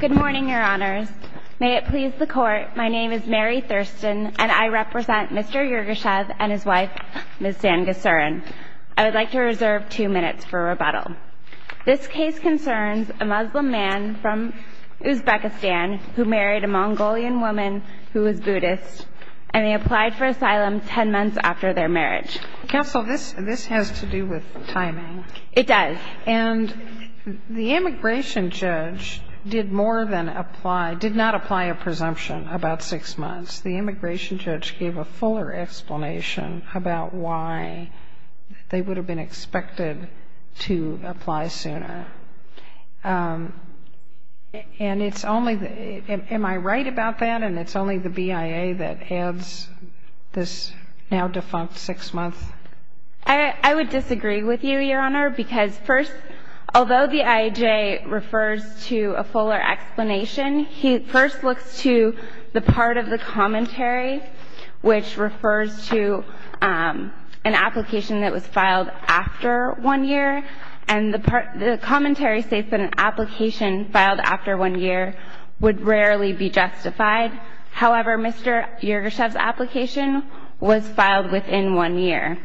Good morning, Your Honors. May it please the Court, my name is Mary Thurston, and I represent Mr. Yergashev and his wife, Ms. Dan Ghasiran. I would like to reserve two minutes for rebuttal. This case concerns a Muslim man from Uzbekistan who married a Mongolian woman who was Buddhist, and they applied for asylum ten months after their marriage. Counsel, this has to do with timing. It does. And the immigration judge did more than apply, did not apply a presumption about six months. The immigration judge gave a fuller explanation about why they would have been expected to apply sooner. And it's only, am I right about that, and it's only the BIA that adds this now defunct six months? I would disagree with you, Your Honor, because first, although the IAJ refers to a fuller explanation, he first looks to the part of the commentary which refers to an application that was filed after one year, and the commentary states that an application filed after one year would rarely be justified. However, Mr. Yergashev's application was filed within one year.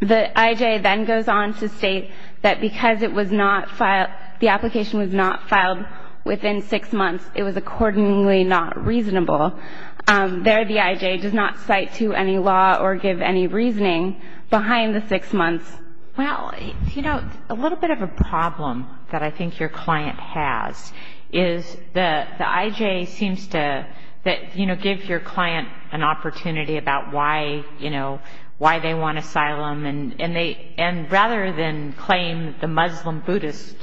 The IAJ then goes on to state that because the application was not filed within six months, it was accordingly not reasonable. There, the IAJ does not cite to any law or give any reasoning behind the six months. Well, you know, a little bit of a problem that I think your client has is the IJ seems to, you know, give your client an opportunity about why, you know, why they want asylum, and rather than claim the Muslim-Buddhist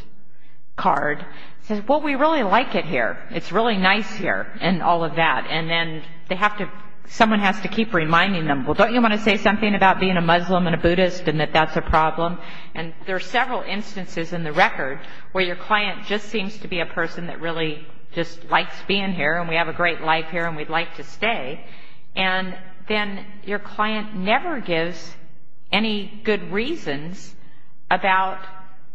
card, says, well, we really like it here. It's really nice here and all of that. And then they have to, someone has to keep reminding them, well, don't you want to say something about being a Muslim and a Buddhist and that that's a problem? And there are several instances in the record where your client just seems to be a person that really just likes being here and we have a great life here and we'd like to stay. And then your client never gives any good reasons about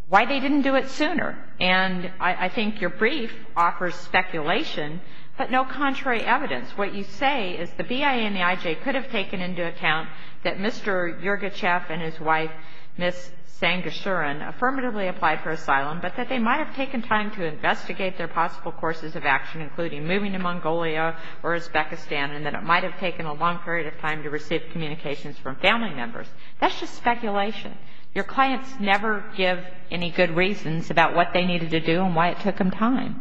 why they didn't do it sooner. And I think your brief offers speculation but no contrary evidence. What you say is the BIA and the IJ could have taken into account that Mr. Yurgachev and his wife, Ms. Sangusuran, affirmatively applied for asylum, but that they might have taken time to investigate their possible courses of action, including moving to Mongolia or Uzbekistan, and that it might have taken a long period of time to receive communications from family members. That's just speculation. Your clients never give any good reasons about what they needed to do and why it took them time.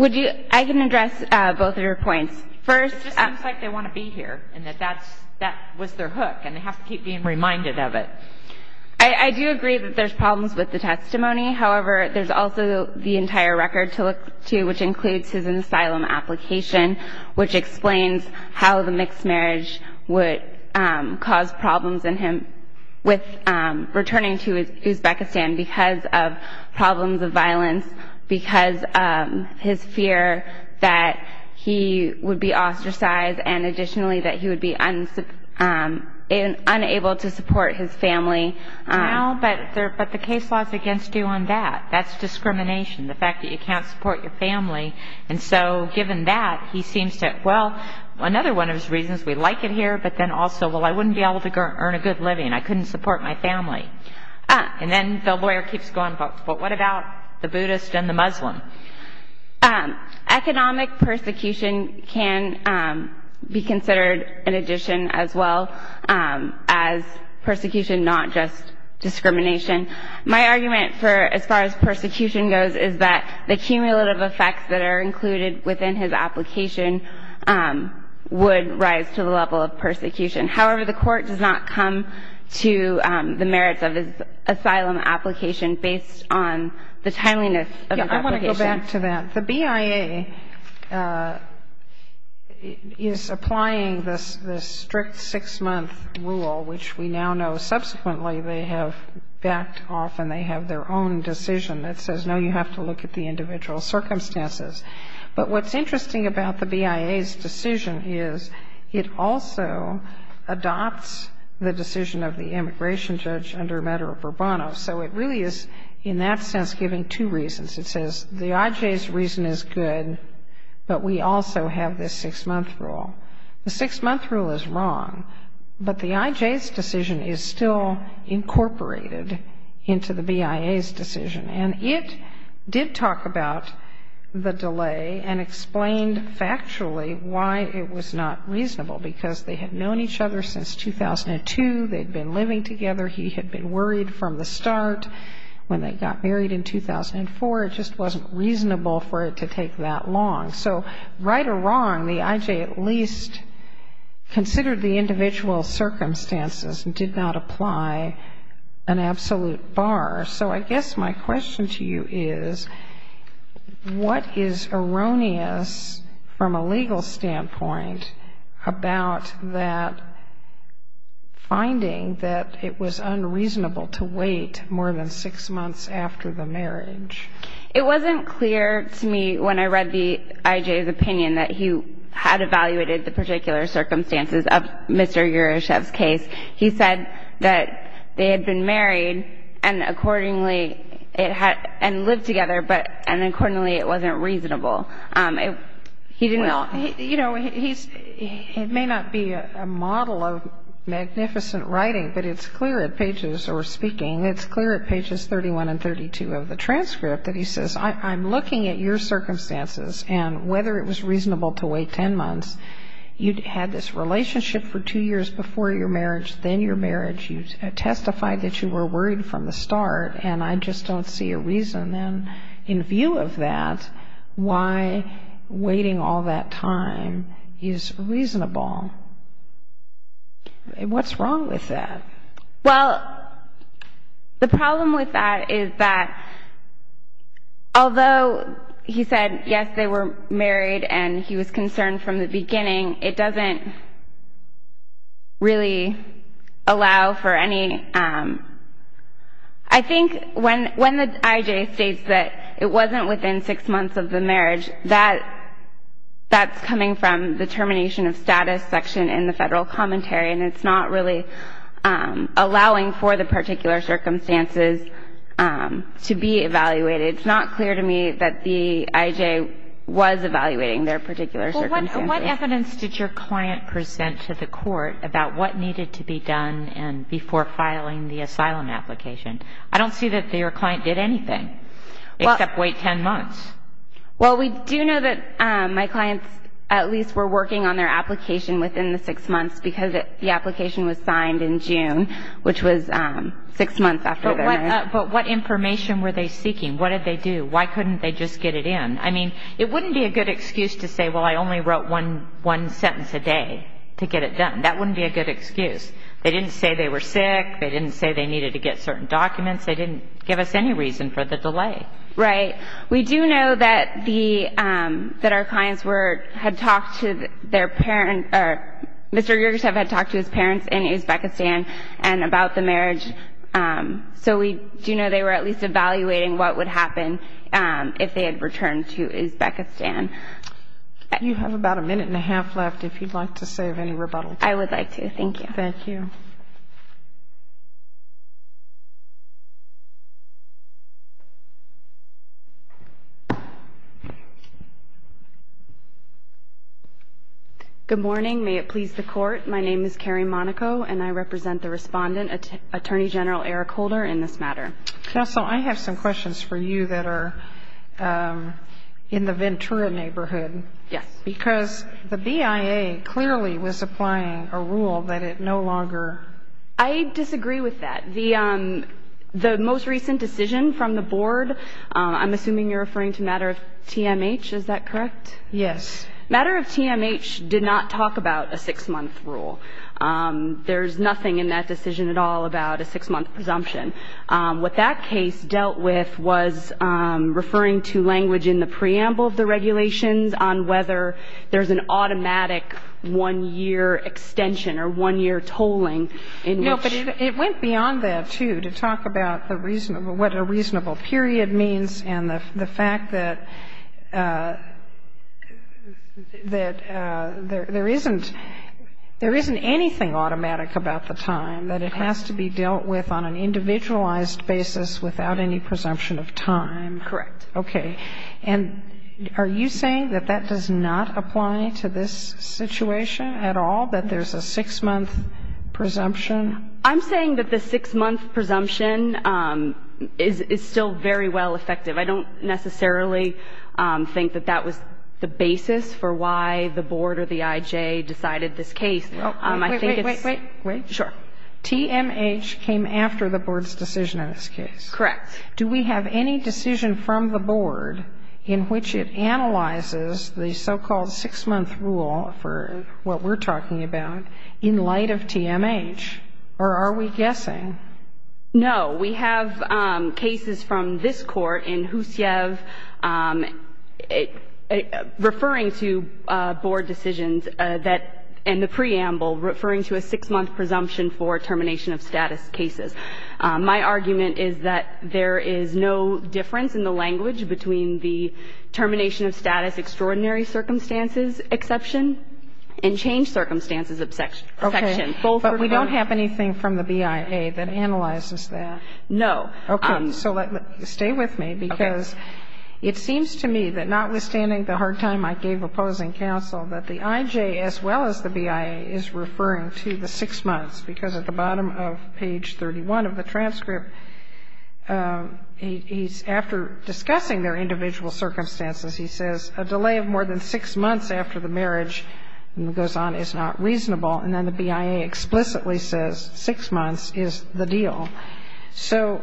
I can address both of your points. It just seems like they want to be here and that that was their hook and they have to keep being reminded of it. I do agree that there's problems with the testimony. However, there's also the entire record to look to, which includes his asylum application, which explains how the mixed marriage would cause problems in him with returning to Uzbekistan because of problems of violence, because his fear that he would be ostracized and additionally that he would be unable to support his family. But the case law is against you on that. That's discrimination, the fact that you can't support your family. And so given that, he seems to, well, another one of his reasons, we like it here, but then also, well, I wouldn't be able to earn a good living. I couldn't support my family. And then the lawyer keeps going, well, what about the Buddhist and the Muslim? Economic persecution can be considered an addition as well as persecution, not just discrimination. My argument for as far as persecution goes is that the cumulative effects that are included within his application would rise to the level of persecution. However, the Court does not come to the merits of his asylum application based on the timeliness of his application. I want to go back to that. The BIA is applying this strict six-month rule, which we now know subsequently they have backed off and they have their own decision that says, no, you have to look at the individual circumstances. But what's interesting about the BIA's decision is it also adopts the decision of the immigration judge under Medoro-Burbano. So it really is, in that sense, giving two reasons. It says the IJ's reason is good, but we also have this six-month rule. The six-month rule is wrong, but the IJ's decision is still incorporated into the BIA's decision. And it did talk about the delay and explained factually why it was not reasonable, because they had known each other since 2002. They had been living together. He had been worried from the start. When they got married in 2004, it just wasn't reasonable for it to take that long. So right or wrong, the IJ at least considered the individual circumstances and did not apply an absolute bar. So I guess my question to you is, what is erroneous from a legal standpoint about that finding that it was unreasonable to wait more than six months after the marriage? It wasn't clear to me when I read the IJ's opinion that he had evaluated the particular circumstances of Mr. Yuryshev's case. He said that they had been married and accordingly it had ñ and lived together, but accordingly it wasn't reasonable. He didn't ñ Well, you know, he's ñ it may not be a model of magnificent writing, but it's clear at pages ñ or speaking, it's clear at pages 31 and 32 of the transcript that he says, I'm looking at your circumstances and whether it was reasonable to wait ten months. You had this relationship for two years before your marriage, then your marriage. You testified that you were worried from the start, and I just don't see a reason then in view of that why waiting all that time is reasonable. What's wrong with that? Well, the problem with that is that although he said, yes, they were married, and he was concerned from the beginning, it doesn't really allow for any ñ I think when the IJ states that it wasn't within six months of the marriage, that's coming from the termination of status section in the Federal Commentary, and it's not really allowing for the particular circumstances to be evaluated. It's not clear to me that the IJ was evaluating their particular circumstances. Well, what evidence did your client present to the court about what needed to be done before filing the asylum application? I don't see that your client did anything except wait ten months. Well, we do know that my clients at least were working on their application within the six months because the application was signed in June, which was six months after their marriage. But what information were they seeking? What did they do? Why couldn't they just get it in? I mean, it wouldn't be a good excuse to say, well, I only wrote one sentence a day to get it done. That wouldn't be a good excuse. They didn't say they were sick. They didn't say they needed to get certain documents. They didn't give us any reason for the delay. Right. We do know that the ñ that our clients were ñ had talked to their parents ñ Mr. Yurgachev had talked to his parents in Uzbekistan about the marriage. So we do know they were at least evaluating what would happen if they had returned to Uzbekistan. You have about a minute and a half left if you'd like to say of any rebuttal. I would like to. Thank you. Thank you. Good morning. May it please the Court. My name is Carrie Monaco, and I represent the respondent, Attorney General Eric Holder, in this matter. Counsel, I have some questions for you that are in the Ventura neighborhood. Yes. Because the BIA clearly was applying a rule that it no longer ñ I disagree with that. The most recent decision from the board ñ I'm assuming you're referring to matter of TMH. Is that correct? Yes. Matter of TMH did not talk about a six-month rule. There's nothing in that decision at all about a six-month presumption. What that case dealt with was referring to language in the preamble of the regulations on whether there's an automatic one-year extension or one-year tolling in which ñ No, but it went beyond that, too, to talk about the ñ what a reasonable period means and the fact that there isn't ñ there isn't anything automatic about the time, that it has to be dealt with on an individualized basis without any presumption of time. Correct. Okay. And are you saying that that does not apply to this situation at all, that there's a six-month presumption? I'm saying that the six-month presumption is still very well effective. I don't necessarily think that that was the basis for why the board or the IJ decided this case. I think it's ñ Wait, wait, wait, wait. Sure. TMH came after the board's decision in this case. Correct. Do we have any decision from the board in which it analyzes the so-called six-month rule for what we're talking about in light of TMH, or are we guessing? No. We have cases from this Court in Husiev referring to board decisions that ñ and the preamble referring to a six-month presumption for termination of status cases. My argument is that there is no difference in the language between the termination of status, extraordinary circumstances exception, and changed circumstances exception. Okay. But we don't have anything from the BIA that analyzes that. No. Okay. So let ñ stay with me, because it seems to me that notwithstanding the hard time I gave opposing counsel, that the IJ as well as the BIA is referring to the six months because at the bottom of page 31 of the transcript, he's ñ after discussing their individual circumstances, he says, a delay of more than six months after the marriage, and he goes on, is not reasonable, and then the BIA explicitly says six months is the deal. So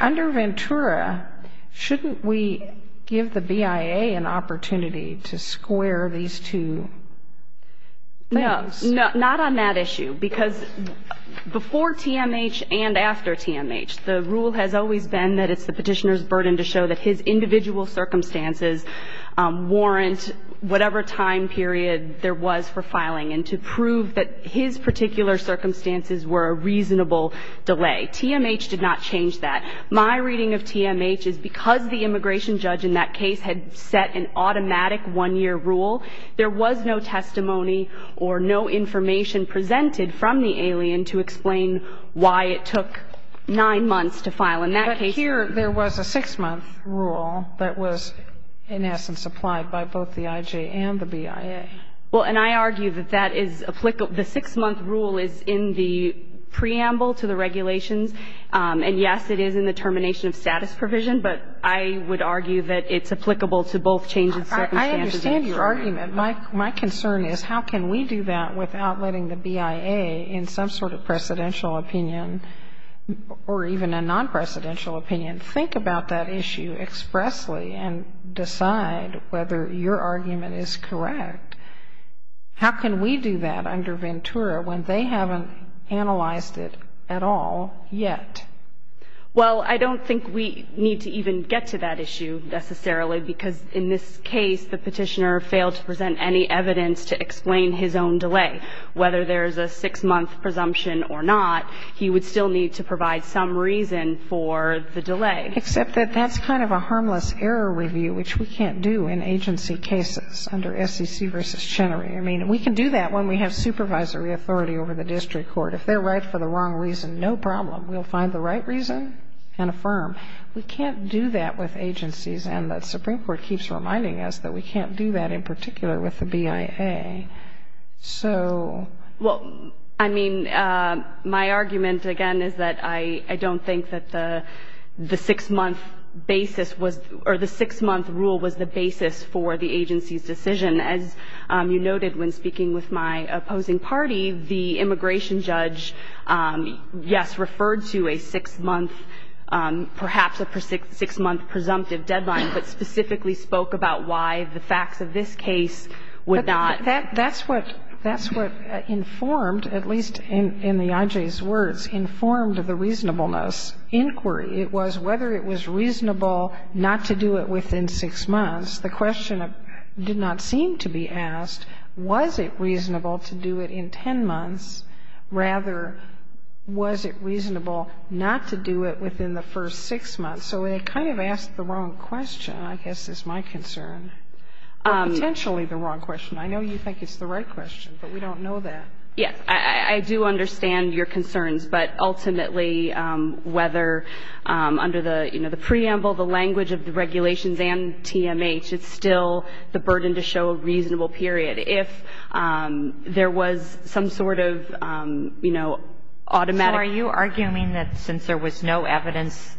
under Ventura, shouldn't we give the BIA an opportunity to square these two things? Not on that issue, because before TMH and after TMH, the rule has always been that it's the petitioner's burden to show that his individual circumstances warrant whatever time period there was for filing, and to prove that his particular circumstances were a reasonable delay. TMH did not change that. My reading of TMH is because the immigration judge in that case had set an automatic one-year rule, there was no testimony or no information presented from the alien to explain why it took nine months to file. In that case ñ But here there was a six-month rule that was in essence applied by both the IJ and the BIA. Well, and I argue that that is ñ the six-month rule is in the preamble to the regulations, and yes, it is in the termination of status provision, but I would argue that it's My concern is how can we do that without letting the BIA in some sort of presidential opinion, or even a non-presidential opinion, think about that issue expressly and decide whether your argument is correct? How can we do that under Ventura when they haven't analyzed it at all yet? Well, I don't think we need to even get to that issue necessarily, because in this case, the petitioner failed to present any evidence to explain his own delay. Whether there is a six-month presumption or not, he would still need to provide some reason for the delay. Except that that's kind of a harmless error review, which we can't do in agency cases under SEC v. Chenery. I mean, we can do that when we have supervisory authority over the district court. If they're right for the wrong reason, no problem. We'll find the right reason and affirm. We can't do that with agencies, and the Supreme Court keeps reminding us that we can't do that in particular with the BIA. So... Well, I mean, my argument, again, is that I don't think that the six-month basis was or the six-month rule was the basis for the agency's decision. As you noted when speaking with my opposing party, the immigration judge, yes, referred to a six-month, perhaps a six-month presumptive deadline, but specifically spoke about why the facts of this case would not... That's what informed, at least in the I.J.'s words, informed the reasonableness inquiry. It was whether it was reasonable not to do it within six months. The question did not seem to be asked, was it reasonable to do it in ten months? Rather, was it reasonable not to do it within the first six months? So it kind of asked the wrong question, I guess, is my concern, or potentially the wrong question. I know you think it's the right question, but we don't know that. Yes. I do understand your concerns, but ultimately, whether under the, you know, the preamble, the language of the regulations and TMH, it's still the burden to show a reasonable period. But if there was some sort of, you know, automatic... So are you arguing that since there was no evidence,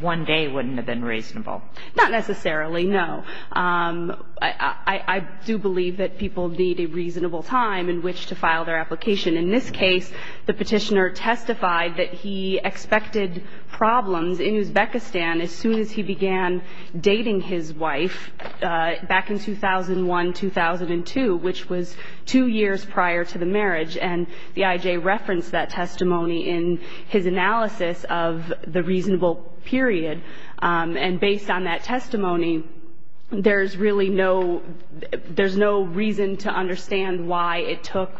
one day wouldn't have been reasonable? Not necessarily, no. I do believe that people need a reasonable time in which to file their application. In this case, the Petitioner testified that he expected problems in Uzbekistan as soon as he began dating his wife, back in 2001, 2002, which was two years prior to the marriage. And the IJ referenced that testimony in his analysis of the reasonable period. And based on that testimony, there's really no reason to understand why it took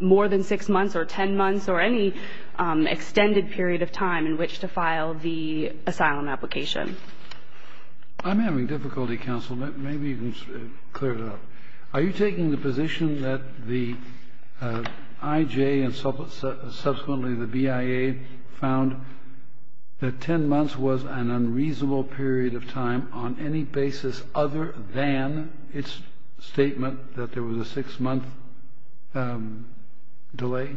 more than six months or ten months or any extended period of time in which to file the application. I'm having difficulty, counsel. Maybe you can clear it up. Are you taking the position that the IJ and subsequently the BIA found that ten months was an unreasonable period of time on any basis other than its statement that there was a six-month delay?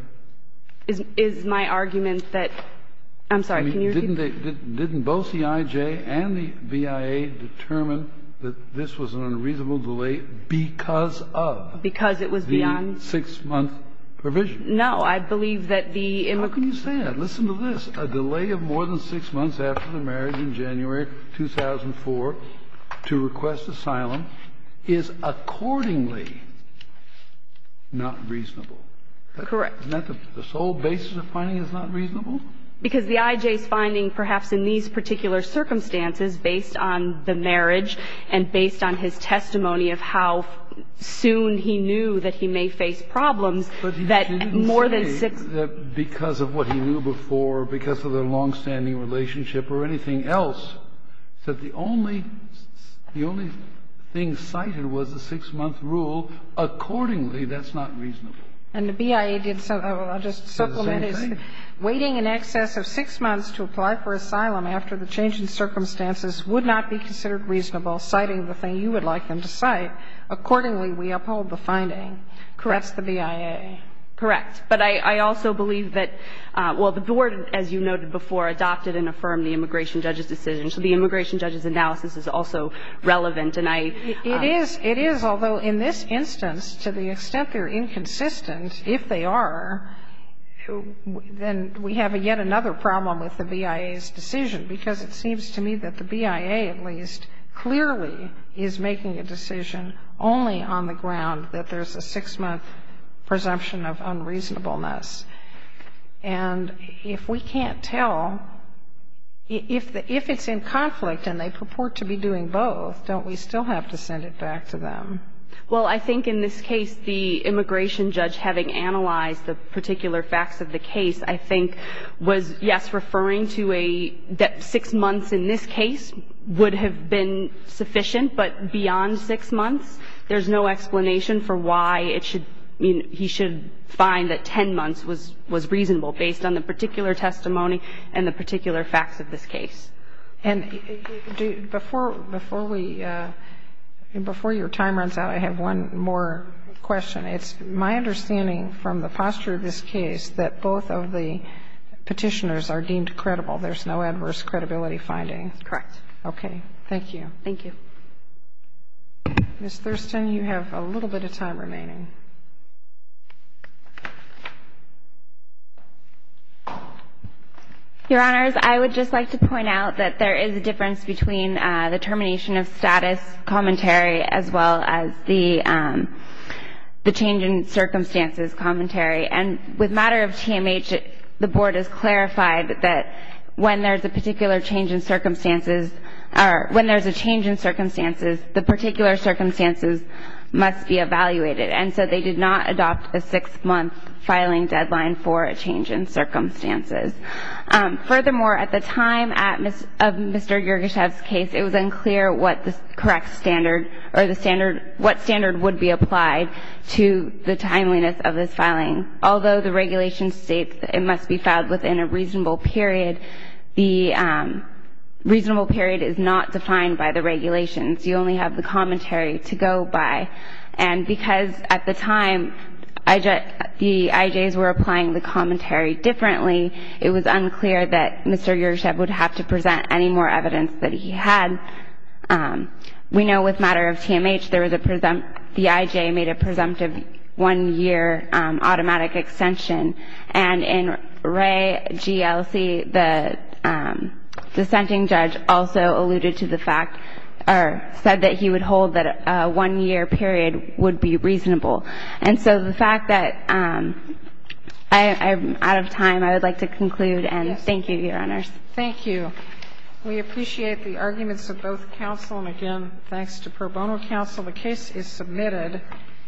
Is my argument that — I'm sorry, can you repeat? Didn't they — didn't both the IJ and the BIA determine that this was an unreasonable delay because of the six-month provision? Because it was beyond. No. I believe that the — How can you say that? Listen to this. A delay of more than six months after the marriage in January 2004 to request asylum is accordingly not reasonable. Correct. Isn't that the sole basis of finding it's not reasonable? Because the IJ's finding, perhaps in these particular circumstances, based on the marriage and based on his testimony of how soon he knew that he may face problems, that more than six — But you didn't say that because of what he knew before, because of their longstanding relationship or anything else, that the only — the only thing cited was the six-month Accordingly, that's not reasonable. And the BIA did — I'll just supplement. It's the same thing. Waiting in excess of six months to apply for asylum after the change in circumstances would not be considered reasonable, citing the thing you would like them to cite. Accordingly, we uphold the finding. Correct. That's the BIA. Correct. But I also believe that — well, the Board, as you noted before, adopted and affirmed the immigration judge's decision. So the immigration judge's analysis is also relevant, and I — It is. It is, although in this instance, to the extent they're inconsistent, if they are, then we have yet another problem with the BIA's decision, because it seems to me that the BIA, at least, clearly is making a decision only on the ground that there's a six-month presumption of unreasonableness. And if we can't tell — if it's in conflict and they purport to be doing both, don't we still have to send it back to them? Well, I think in this case, the immigration judge, having analyzed the particular facts of the case, I think was, yes, referring to a — that six months in this case would have been sufficient, but beyond six months, there's no explanation for why it should — I mean, he should find that 10 months was — was reasonable based on the particular testimony and the particular facts of this case. And before — before we — before your time runs out, I have one more question. It's my understanding from the posture of this case that both of the Petitioners are deemed credible. There's no adverse credibility finding. Correct. Okay. Thank you. Thank you. Ms. Thurston, you have a little bit of time remaining. Your Honors, I would just like to point out that there is a difference between the termination of status commentary as well as the change in circumstances commentary. And with matter of TMH, the Board has clarified that when there's a particular change in circumstances — or when there's a change in circumstances, the particular circumstances must be evaluated. And so they did not adopt a six-month filing deadline for a change in circumstances. Furthermore, at the time of Mr. Yergeshev's case, it was unclear what the correct standard — or the standard — what standard would be applied to the timeliness of this filing. Although the regulation states it must be filed within a reasonable period, the reasonable period is not defined by the regulations. You only have the commentary to go by. And because at the time the IJs were applying the commentary differently, it was unclear that Mr. Yergeshev would have to present any more evidence that he had. We know with matter of TMH, there was a — the IJ made a presumptive one-year automatic extension. And in Wray GLC, the dissenting judge also alluded to the fact — or said that he would hold that a one-year period would be reasonable. And so the fact that — I'm out of time. I would like to conclude. And thank you, Your Honors. Thank you. We appreciate the arguments of both counsel. And again, thanks to pro bono counsel. The case is submitted.